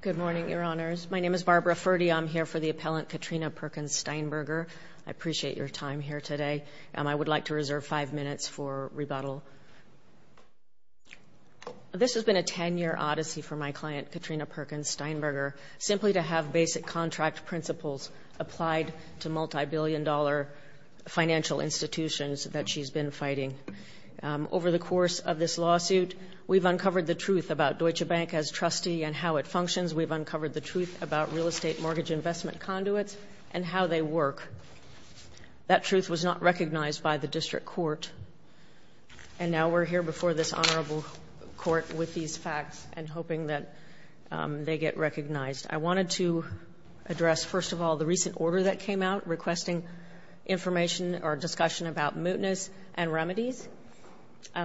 Good morning, Your Honors. My name is Barbara Ferdy. I'm here for the appellant Katrina Perkins-Steinberger. I appreciate your time here today. I would like to reserve five minutes for rebuttal. This has been a 10-year odyssey for my client, Katrina Perkins-Steinberger, simply to have basic contract principles applied to multibillion-dollar financial institutions that she's been fighting. Over the course of this lawsuit, we've uncovered the truth about Deutsche Bank as trustee and how it functions. We've uncovered the truth about real estate mortgage investment conduits and how they work. That truth was not recognized by the district court. And now we're here before this honorable court with these facts and hoping that they get recognized. I wanted to address, first of all, the recent order that came out requesting information or discussion about mootness and remedies.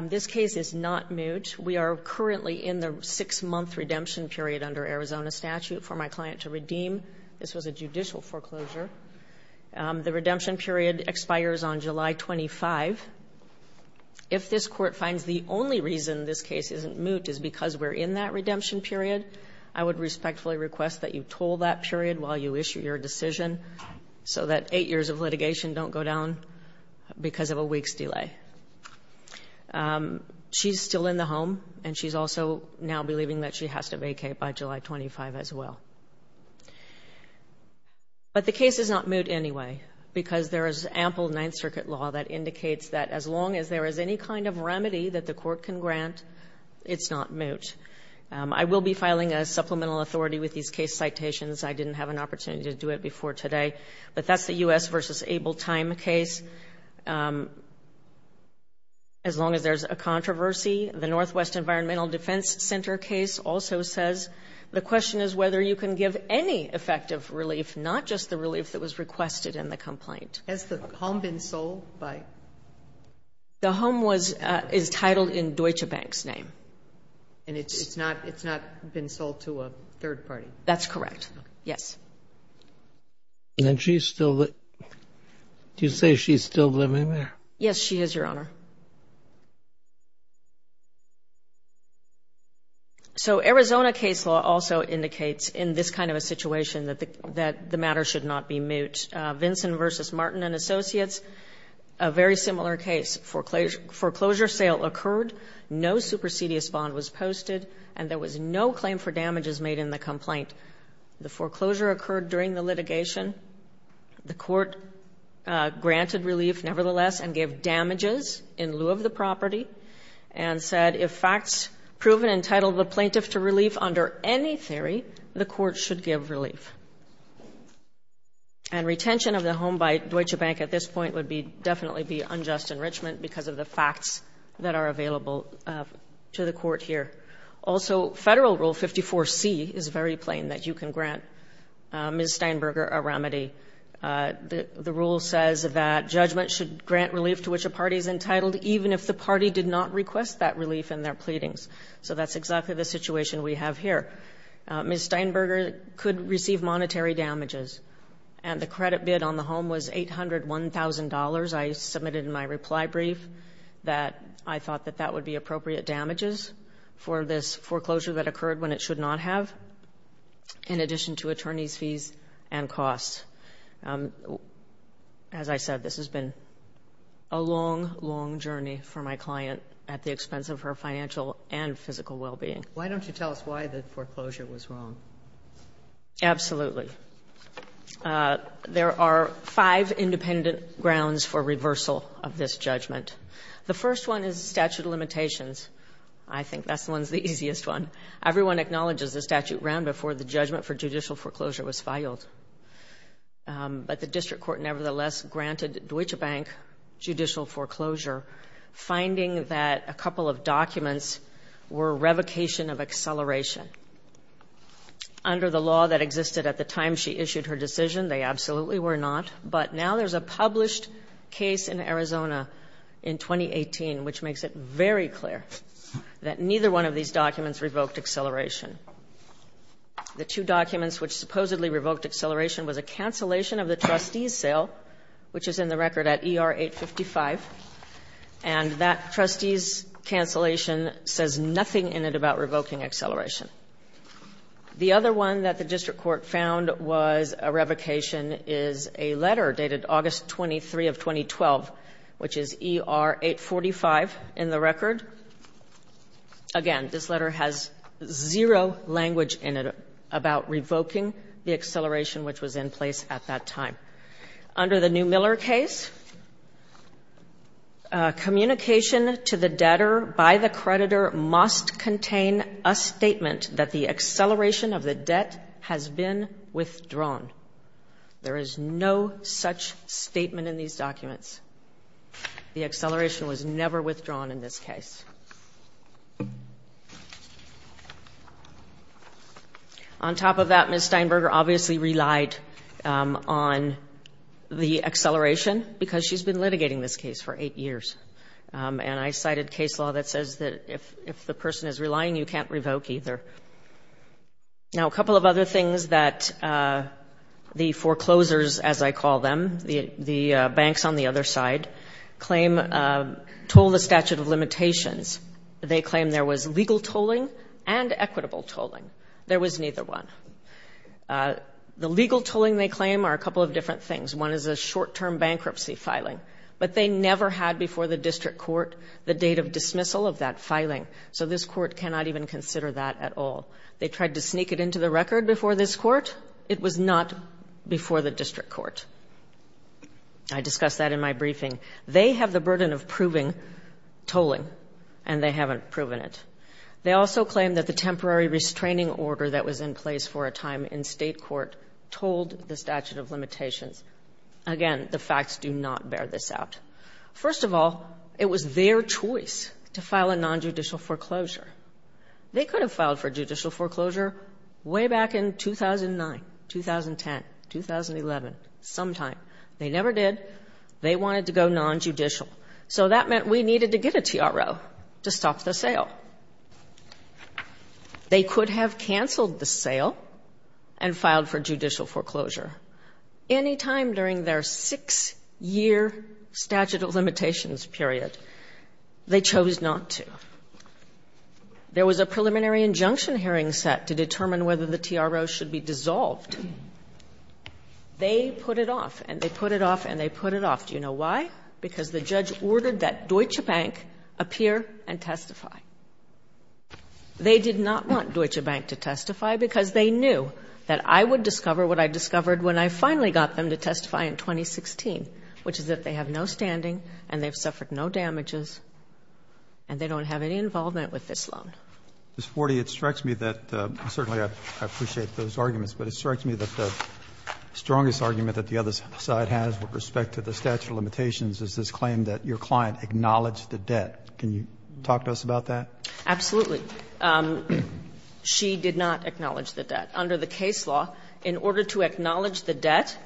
This case is not moot. We are currently in the 6-month redemption period under Arizona statute for my client to redeem. This was a judicial foreclosure. The redemption period expires on July 25. If this Court finds the only reason this case isn't moot is because we're in that redemption period, I would respectfully request that you toll that period while you issue your decision so that eight years of litigation don't go down because of a week's delay. She's still in the home, and she's also now believing that she has to vacate by July 25 as well. But the case is not moot anyway because there is ample Ninth Circuit law that indicates that as long as there is any kind of remedy that the Court can grant, it's not moot. I will be filing a supplemental authority with these case citations. I didn't have an opportunity to do it before today. But that's the U.S. v. Able Time case. As long as there's a controversy, the Northwest Environmental Defense Center case also says. The question is whether you can give any effective relief, not just the relief that was requested in the complaint. Has the home been sold? The home is titled in Deutsche Bank's name. And it's not been sold to a third party? That's correct. Yes. And she's still living there? Yes, she is, Your Honor. So Arizona case law also indicates in this kind of a situation that the matter should not be moot. Vinson v. Martin & Associates, a very similar case. Foreclosure sale occurred, no supersedious bond was posted, and there was no claim for damages made in the complaint. The foreclosure occurred during the litigation. The Court granted relief nevertheless and gave damages in lieu of the property and said if facts proven entitled the plaintiff to relief under any theory, the Court should give relief. And retention of the home by Deutsche Bank at this point would definitely be unjust enrichment because of the facts that are available to the Court here. Also, Federal Rule 54C is very plain, that you can grant Ms. Steinberger a remedy. The rule says that judgment should grant relief to which a party is entitled, even if the party did not request that relief in their pleadings. So that's exactly the situation we have here. Ms. Steinberger could receive monetary damages, and the credit bid on the home was $801,000. I submitted in my reply brief that I thought that that would be appropriate damages for this foreclosure that occurred when it should not have, in addition to attorney's fees and costs. As I said, this has been a long, long journey for my client at the expense of her financial and physical well-being. Why don't you tell us why the foreclosure was wrong? Absolutely. There are five independent grounds for reversal of this judgment. The first one is statute of limitations. I think that's the one that's the easiest one. Everyone acknowledges the statute ran before the judgment for judicial foreclosure was filed. But the district court nevertheless granted Deutsche Bank judicial foreclosure, finding that a couple of documents were revocation of acceleration. Under the law that existed at the time she issued her decision, they absolutely were not. But now there's a published case in Arizona in 2018, which makes it very clear that neither one of these documents revoked acceleration. The two documents which supposedly revoked acceleration was a cancellation of the trustee's sale, which is in the record at ER 855. And that trustee's cancellation says nothing in it about revoking acceleration. The other one that the district court found was a revocation is a letter dated August 23 of 2012, which is ER 845 in the record. Again, this letter has zero language in it about revoking the acceleration which was in place at that time. Under the new Miller case, communication to the debtor by the creditor must contain a statement that the acceleration of the debt has been withdrawn. There is no such statement in these documents. The acceleration was never withdrawn in this case. On top of that, Ms. Steinberger obviously relied on the acceleration because she's been litigating this case for eight years. And I cited case law that says that if the person is relying, you can't revoke either. Now, a couple of other things that the foreclosures, as I call them, the banks on the other side, claim toll the statute of limitations. They claim there was legal tolling and equitable tolling. There was neither one. The legal tolling they claim are a couple of different things. One is a short-term bankruptcy filing. But they never had before the district court the date of dismissal of that filing. So this court cannot even consider that at all. They tried to sneak it into the record before this court. It was not before the district court. I discussed that in my briefing. They have the burden of proving tolling, and they haven't proven it. They also claim that the temporary restraining order that was in place for a time in state court tolled the statute of limitations. Again, the facts do not bear this out. First of all, it was their choice to file a nonjudicial foreclosure. They could have filed for judicial foreclosure way back in 2009, 2010, 2011, sometime. They never did. They wanted to go nonjudicial. So that meant we needed to get a TRO to stop the sale. They could have canceled the sale and filed for judicial foreclosure. Any time during their six-year statute of limitations period, they chose not to. There was a preliminary injunction hearing set to determine whether the TRO should be dissolved. They put it off, and they put it off, and they put it off. Do you know why? Because the judge ordered that Deutsche Bank appear and testify. They did not want Deutsche Bank to testify because they knew that I would discover what I discovered when I finally got them to testify in 2016, which is that they have no standing and they've suffered no damages, and they don't have any involvement with this loan. Ms. Forty, it strikes me that certainly I appreciate those arguments, but it strikes me that the strongest argument that the other side has with respect to the statute of limitations is this claim that your client acknowledged the debt. Can you talk to us about that? Absolutely. She did not acknowledge the debt. Under the case law, in order to acknowledge the debt,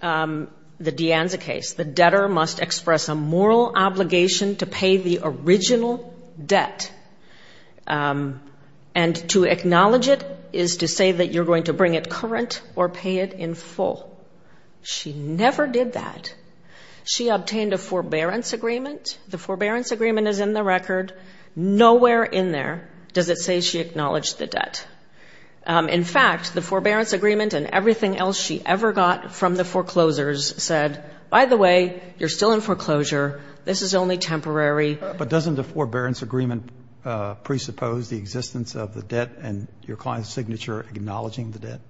the De Anza case, the debtor must express a moral obligation to pay the original debt, and to acknowledge it is to say that you're going to bring it current or pay it in full. She never did that. She obtained a forbearance agreement. The forbearance agreement is in the record. Nowhere in there does it say she acknowledged the debt. In fact, the forbearance agreement and everything else she ever got from the foreclosures said, by the way, you're still in foreclosure. This is only temporary. But doesn't the forbearance agreement presuppose the existence of the debt and your client's signature acknowledging the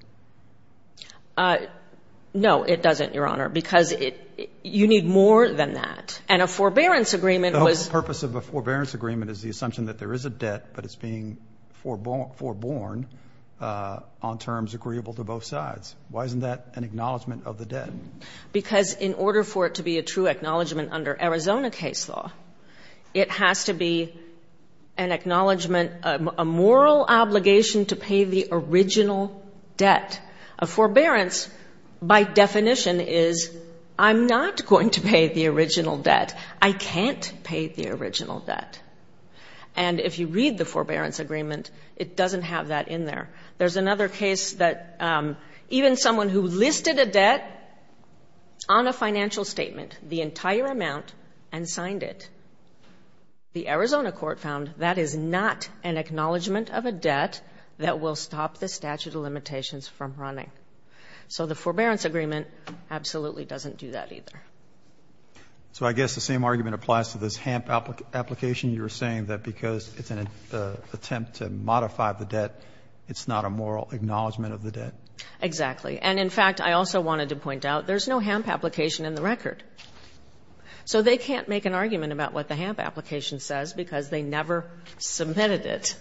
debt? No, it doesn't, Your Honor, because you need more than that. And a forbearance agreement was... The whole purpose of a forbearance agreement is the assumption that there is a debt, but it's being foreborn on terms agreeable to both sides. Why isn't that an acknowledgment of the debt? Because in order for it to be a true acknowledgment under Arizona case law, it has to be an acknowledgment, a moral obligation to pay the original debt. A forbearance, by definition, is I'm not going to pay the original debt. I can't pay the original debt. And if you read the forbearance agreement, it doesn't have that in there. There's another case that even someone who listed a debt on a financial statement, the entire amount, and signed it, the Arizona court found that is not an acknowledgment of a debt that will stop the statute of limitations from running. So the forbearance agreement absolutely doesn't do that either. So I guess the same argument applies to this HAMP application. You were saying that because it's an attempt to modify the debt, it's not a moral acknowledgment of the debt. Exactly. And, in fact, I also wanted to point out there's no HAMP application in the record. So they can't make an argument about what the HAMP application says because they never submitted it.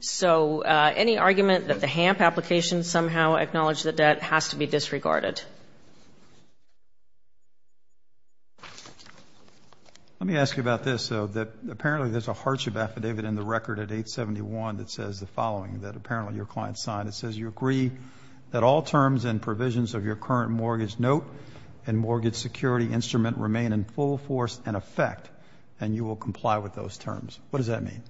So any argument that the HAMP application somehow acknowledged the debt has to be disregarded. Let me ask you about this, though, that apparently there's a hardship affidavit in the record at 871 that says the following that apparently your client signed. It says you agree that all terms and provisions of your current mortgage note and mortgage security instrument remain in full force and effect, and you will comply with those terms. What does that mean?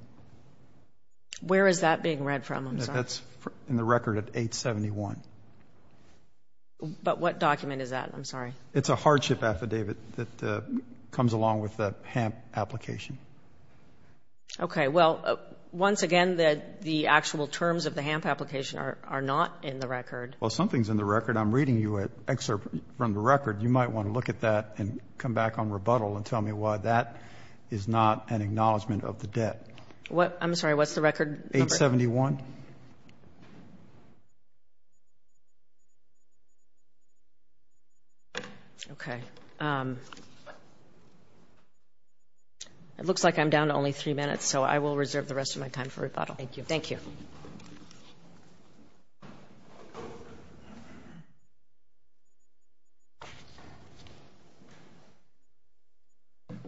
Where is that being read from? That's in the record at 871. But what document is that? I'm sorry. It's a hardship affidavit that comes along with the HAMP application. Okay. Well, once again, the actual terms of the HAMP application are not in the record. Well, something's in the record. I'm reading you an excerpt from the record. You might want to look at that and come back on rebuttal and tell me why that is not an acknowledgment of the debt. I'm sorry. What's the record number? 871. Okay. It looks like I'm down to only three minutes, so I will reserve the rest of my time for rebuttal. Thank you. Thank you.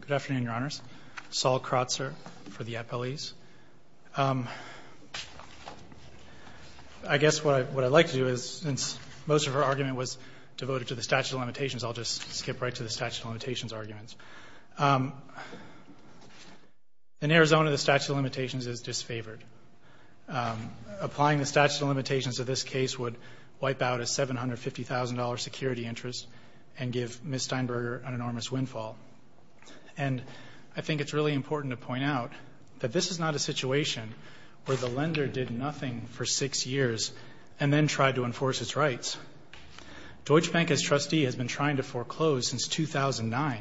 Good afternoon, Your Honors. Saul Kratzer for the appellees. I guess what I'd like to do is, since most of our argument was devoted to the statute of limitations, I'll just skip right to the statute of limitations arguments. In Arizona, the statute of limitations is disfavored. Applying the statute of limitations to this case would wipe out a $750,000 security and give Ms. Steinberger an enormous windfall. And I think it's really important to point out that this is not a situation where the lender did nothing for six years and then tried to enforce its rights. Deutsche Bank, as trustee, has been trying to foreclose since 2009.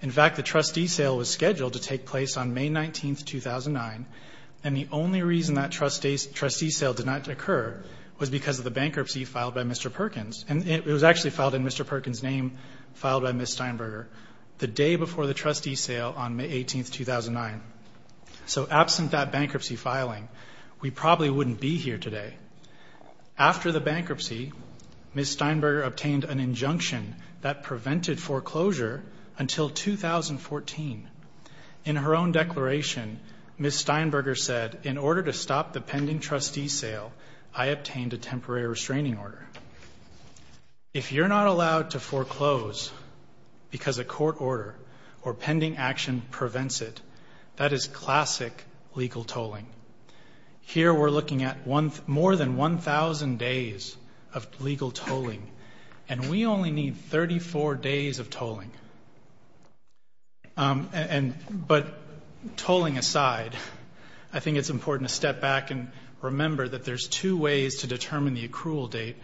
In fact, the trustee sale was scheduled to take place on May 19, 2009, and the only reason that trustee sale did not occur was because of the bankruptcy It was actually filed in Mr. Perkins' name, filed by Ms. Steinberger, the day before the trustee sale on May 18, 2009. So absent that bankruptcy filing, we probably wouldn't be here today. After the bankruptcy, Ms. Steinberger obtained an injunction that prevented foreclosure until 2014. In her own declaration, Ms. Steinberger said, in order to stop the pending trustee sale, I obtained a temporary restraining order. If you're not allowed to foreclose because a court order or pending action prevents it, that is classic legal tolling. Here we're looking at more than 1,000 days of legal tolling, and we only need 34 days of tolling. But tolling aside, I think it's important to step back and remember that there's two ways to determine the accrual date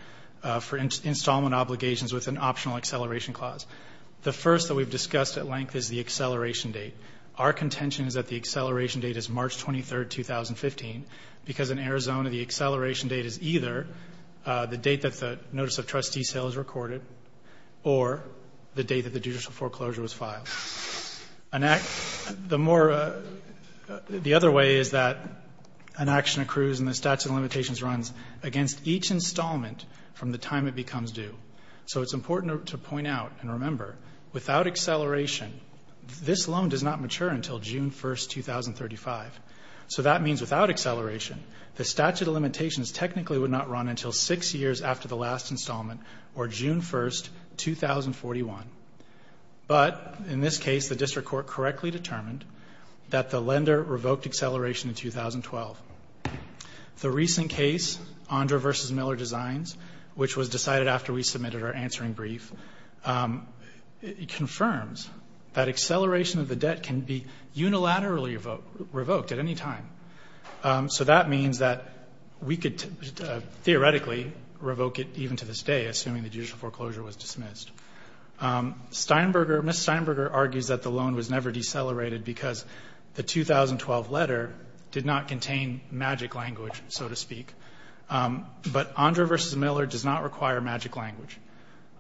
for installment obligations with an optional acceleration clause. The first that we've discussed at length is the acceleration date. Our contention is that the acceleration date is March 23, 2015, because in Arizona the acceleration date is either the date that the notice of trustee sale is recorded or the date that the judicial foreclosure was filed. The other way is that an action accrues and the statute of limitations runs against each installment from the time it becomes due. So it's important to point out and remember, without acceleration, this loan does not mature until June 1, 2035. So that means without acceleration, the statute of limitations technically would not run until six years after the last installment, or June 1, 2041. But in this case, the district court correctly determined that the lender revoked acceleration in 2012. The recent case, Ondra v. Miller Designs, which was decided after we submitted our answering brief, confirms that acceleration of the debt can be unilaterally revoked at any time. So that means that we could theoretically revoke it even to this day, assuming the judicial foreclosure was dismissed. Steinberger, Ms. Steinberger argues that the loan was never decelerated because the 2012 letter did not contain magic language, so to speak. But Ondra v. Miller does not require magic language.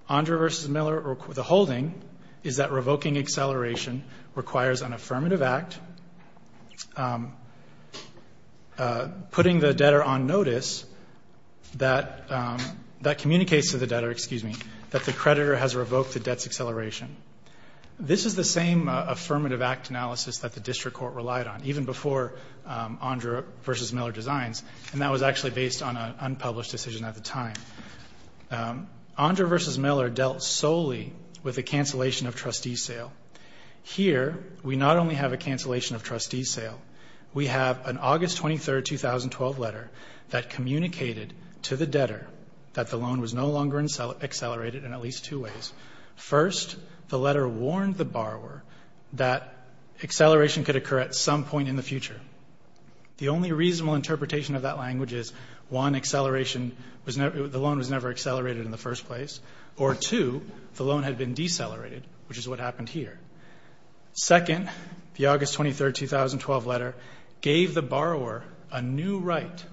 Ondra v. Miller, the holding is that revoking acceleration requires an affirmative act, putting the debtor on notice that communicates to the debtor, excuse me, that the creditor has revoked the debt's acceleration. This is the same affirmative act analysis that the district court relied on, even before Ondra v. Miller Designs, and that was actually based on an unpublished decision at the time. Ondra v. Miller dealt solely with a cancellation of trustee sale. Here, we not only have a cancellation of trustee sale, we have an August 23, 2012 letter that communicated to the debtor that the loan was no longer accelerated in at least two ways. First, the letter warned the borrower that acceleration could occur at some point in the future. The only reasonable interpretation of that language is, one, acceleration, the loan was never accelerated in the first place, or two, the loan had been decelerated, which is what happened here. Second, the August 23, 2012 letter gave the borrower a new right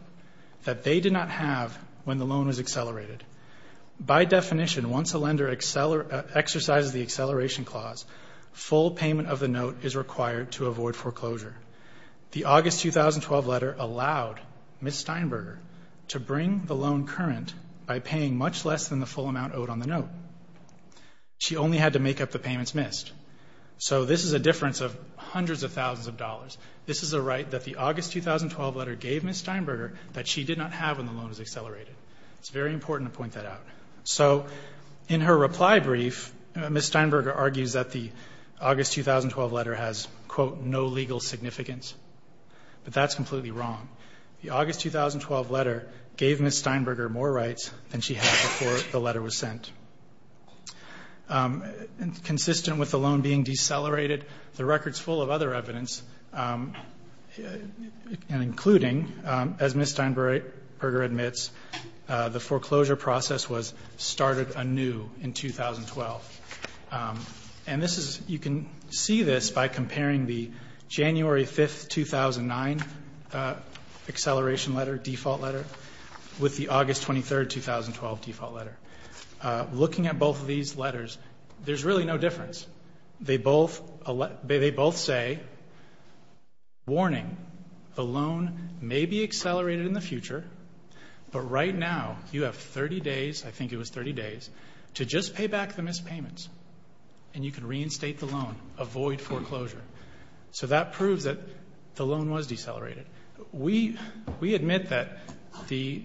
that they did not have when the loan was accelerated. By definition, once a lender exercises the acceleration clause, full payment of the note is required to avoid foreclosure. The August 2012 letter allowed Ms. Steinberger to bring the loan current by paying much less than the full amount owed on the note. She only had to make up the payments missed. So this is a difference of hundreds of thousands of dollars. This is a right that the August 2012 letter gave Ms. Steinberger that she did not have when the loan was accelerated. It's very important to point that out. So in her reply brief, Ms. Steinberger argues that the August 2012 letter has, quote, no legal significance. But that's completely wrong. The August 2012 letter gave Ms. Steinberger more rights than she had before the letter was sent. Consistent with the loan being decelerated, the record's full of other evidence, including, as Ms. Steinberger admits, the foreclosure process was started anew in 2012. And this is you can see this by comparing the January 5, 2009 acceleration letter, default letter, with the August 23, 2012 default letter. Looking at both of these letters, there's really no difference. They both say, warning, the loan may be accelerated in the future, but right now you have 30 days, I think it was 30 days, to just pay back the missed payments and you can reinstate the loan, avoid foreclosure. So that proves that the loan was decelerated. We admit that the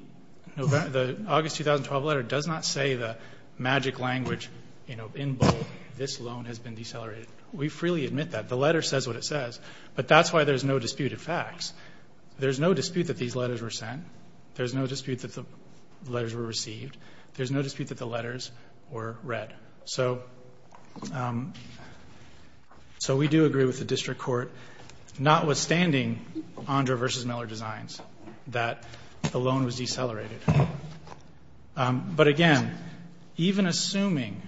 August 2012 letter does not say the magic language in bold, this loan has been decelerated. We freely admit that. The letter says what it says. But that's why there's no dispute of facts. There's no dispute that these letters were sent. There's no dispute that the letters were received. There's no dispute that the letters were read. So we do agree with the district court, notwithstanding Andra v. Miller Designs, that the loan was decelerated. But, again, even assuming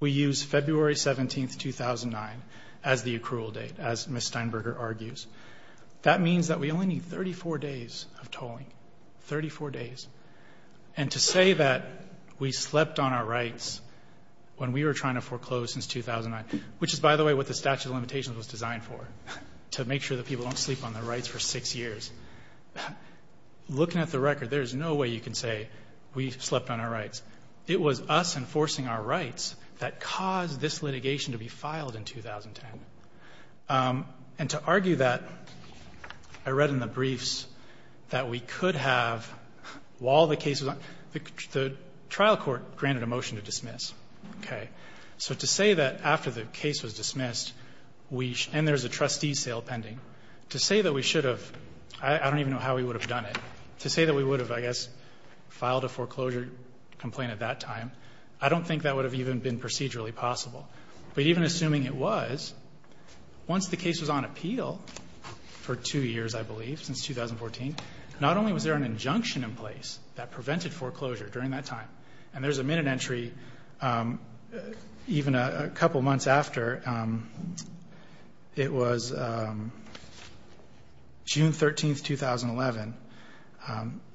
we use February 17, 2009, as the accrual date, as Ms. Steinberger argues, that means that we only need 34 days of tolling, 34 days. And to say that we slept on our rights when we were trying to foreclose since 2009, which is, by the way, what the statute of limitations was designed for, to make sure that people don't sleep on their rights for six years. Looking at the record, there's no way you can say we slept on our rights. It was us enforcing our rights that caused this litigation to be filed in 2010. And to argue that, I read in the briefs that we could have, while the case was on, the trial court granted a motion to dismiss. So to say that after the case was dismissed, and there's a trustee sale pending, to say that we should have, I don't even know how we would have done it, to say that we would have, I guess, filed a foreclosure complaint at that time, I don't think that would have even been procedurally possible. But even assuming it was, once the case was on appeal for two years, I believe, since 2014, not only was there an injunction in place that prevented foreclosure during that time, and there's a minute entry even a couple months after. It was June 13, 2011.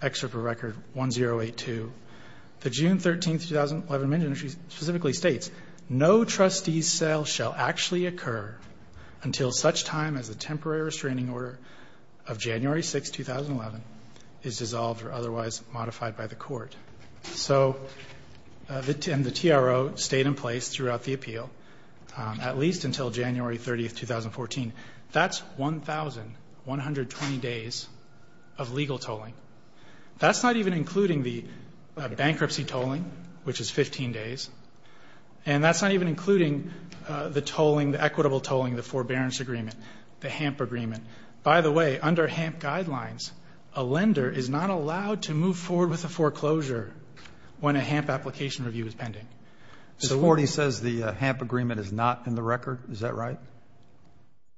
Excerpt from record 1082. The June 13, 2011 minute entry specifically states, no trustee sale shall actually occur until such time as the temporary restraining order of January 6, 2011, is dissolved or otherwise modified by the court. So the TRO stayed in place throughout the appeal, at least until January 30, 2014. That's 1,120 days of legal tolling. That's not even including the bankruptcy tolling, which is 15 days, and that's not even including the tolling, the equitable tolling, the forbearance agreement, the HAMP agreement. By the way, under HAMP guidelines, a lender is not allowed to move forward with a foreclosure when a HAMP application review is pending. Mr. Forty says the HAMP agreement is not in the record. Is that right?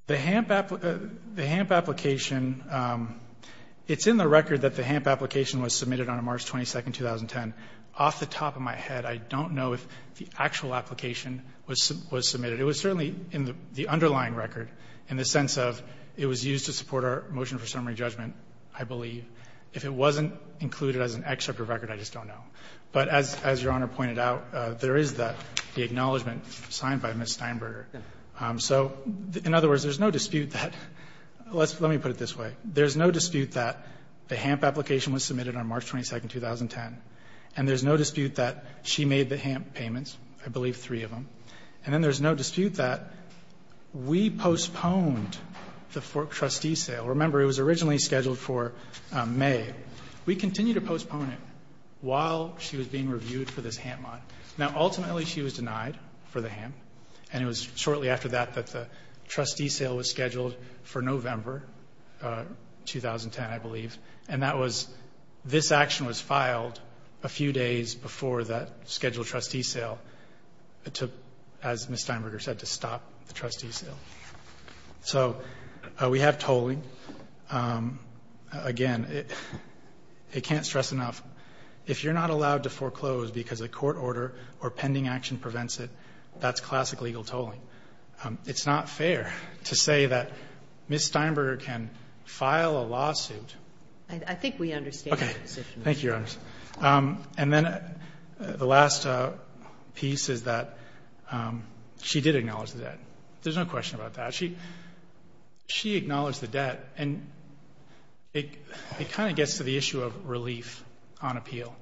The HAMP application, it's in the record that the HAMP application was submitted on March 22, 2010. Off the top of my head, I don't know if the actual application was submitted. It was certainly in the underlying record in the sense of it was used to support our motion for summary judgment, I believe. If it wasn't included as an excerpt of record, I just don't know. But as Your Honor pointed out, there is the acknowledgment signed by Ms. Steinberger. So in other words, there's no dispute that let's let me put it this way. There's no dispute that the HAMP application was submitted on March 22, 2010. And there's no dispute that she made the HAMP payments, I believe three of them. And then there's no dispute that we postponed the trustee sale. Remember, it was originally scheduled for May. We continued to postpone it while she was being reviewed for this HAMP mod. Now, ultimately, she was denied for the HAMP. And it was shortly after that that the trustee sale was scheduled for November 2010, I believe. And that was this action was filed a few days before that scheduled trustee sale, as Ms. Steinberger said, to stop the trustee sale. So we have tolling. Again, I can't stress enough. If you're not allowed to foreclose because a court order or pending action prevents it, that's classic legal tolling. It's not fair to say that Ms. Steinberger can file a lawsuit. I think we understand your position. Thank you, Your Honor. And then the last piece is that she did acknowledge the debt. There's no question about that. She acknowledged the debt. And it kind of gets to the issue of relief on appeal.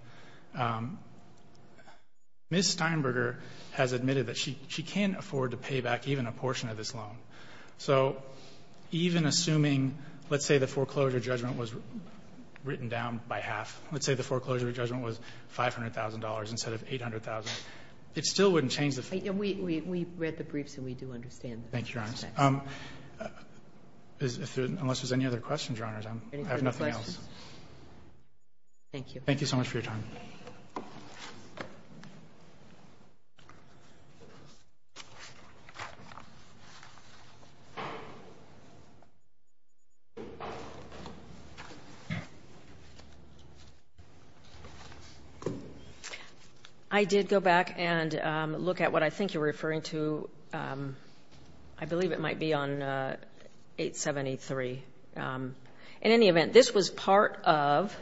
Ms. Steinberger has admitted that she can't afford to pay back even a portion of this loan. So even assuming, let's say the foreclosure judgment was written down by half, let's say the foreclosure judgment was $500,000 instead of $800,000, it still wouldn't change the fact. We read the briefs and we do understand. Thank you, Your Honor. Unless there's any other questions, Your Honor, I have nothing else. Thank you. Thank you so much for your time. I did go back and look at what I think you're referring to. I believe it might be on 873. In any event, this was part of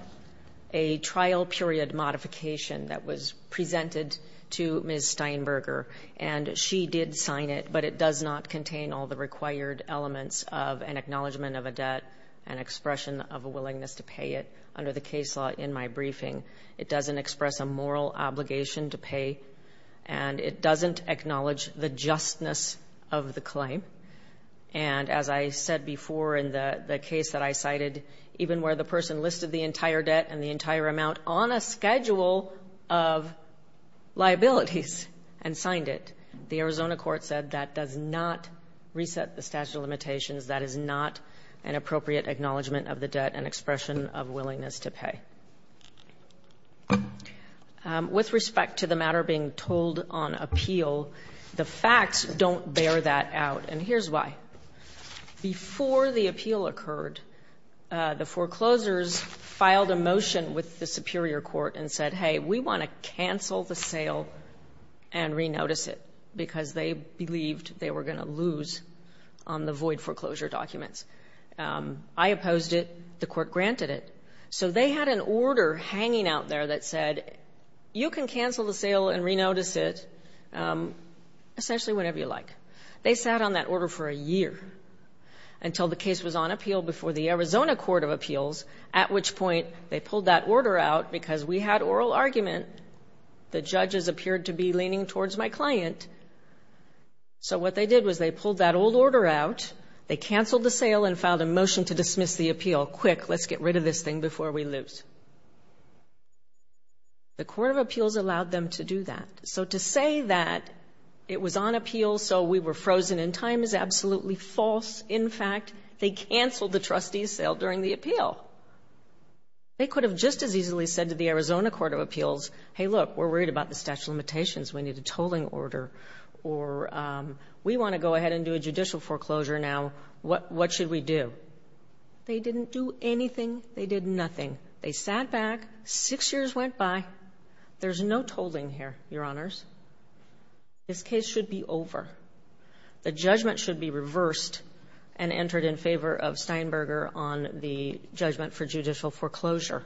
a trial period modification that was presented to Ms. Steinberger. And she did sign it, but it does not contain all the required elements of an acknowledgement of a debt and expression of a willingness to pay it under the case law in my briefing. It doesn't express a moral obligation to pay, and it doesn't acknowledge the justness of the claim. And as I said before in the case that I cited, even where the person listed the entire debt and the entire amount on a schedule of liabilities and signed it, the Arizona court said that does not reset the statute of limitations, that is not an appropriate acknowledgement of the debt and expression of willingness to pay. With respect to the matter being told on appeal, the facts don't bear that out, and here's why. Before the appeal occurred, the foreclosures filed a motion with the superior court and said, hey, we want to cancel the sale and re-notice it, because they believed they were going to lose on the void foreclosure documents. I opposed it. The court granted it. So they had an order hanging out there that said, you can cancel the sale and re-notice it essentially whenever you like. They sat on that order for a year until the case was on appeal before the Arizona Court of Appeals, at which point they pulled that order out because we had oral argument. The judges appeared to be leaning towards my client. So what they did was they pulled that old order out. They canceled the sale and filed a motion to dismiss the appeal. Quick, let's get rid of this thing before we lose. The Court of Appeals allowed them to do that. So to say that it was on appeal so we were frozen in time is absolutely false. In fact, they canceled the trustee's sale during the appeal. They could have just as easily said to the Arizona Court of Appeals, hey, look, we're worried about the statute of limitations, we need a tolling order, or we want to go ahead and do a judicial foreclosure now. What should we do? They didn't do anything. They did nothing. They sat back. Six years went by. There's no tolling here, Your Honors. This case should be over. The judgment should be reversed and entered in favor of Steinberger on the judgment for judicial foreclosure.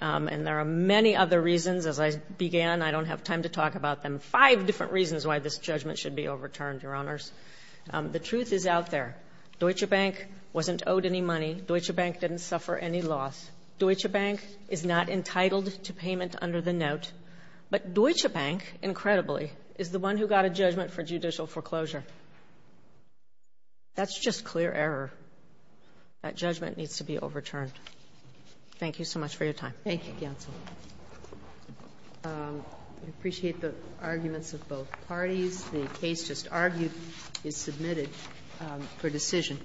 And there are many other reasons. As I began, I don't have time to talk about them. Five different reasons why this judgment should be overturned, Your Honors. The truth is out there. Deutsche Bank wasn't owed any money. Deutsche Bank didn't suffer any loss. Deutsche Bank is not entitled to payment under the note. But Deutsche Bank, incredibly, is the one who got a judgment for judicial foreclosure. That's just clear error. That judgment needs to be overturned. Thank you so much for your time. Thank you, counsel. I appreciate the arguments of both parties. The case just argued is submitted for decision.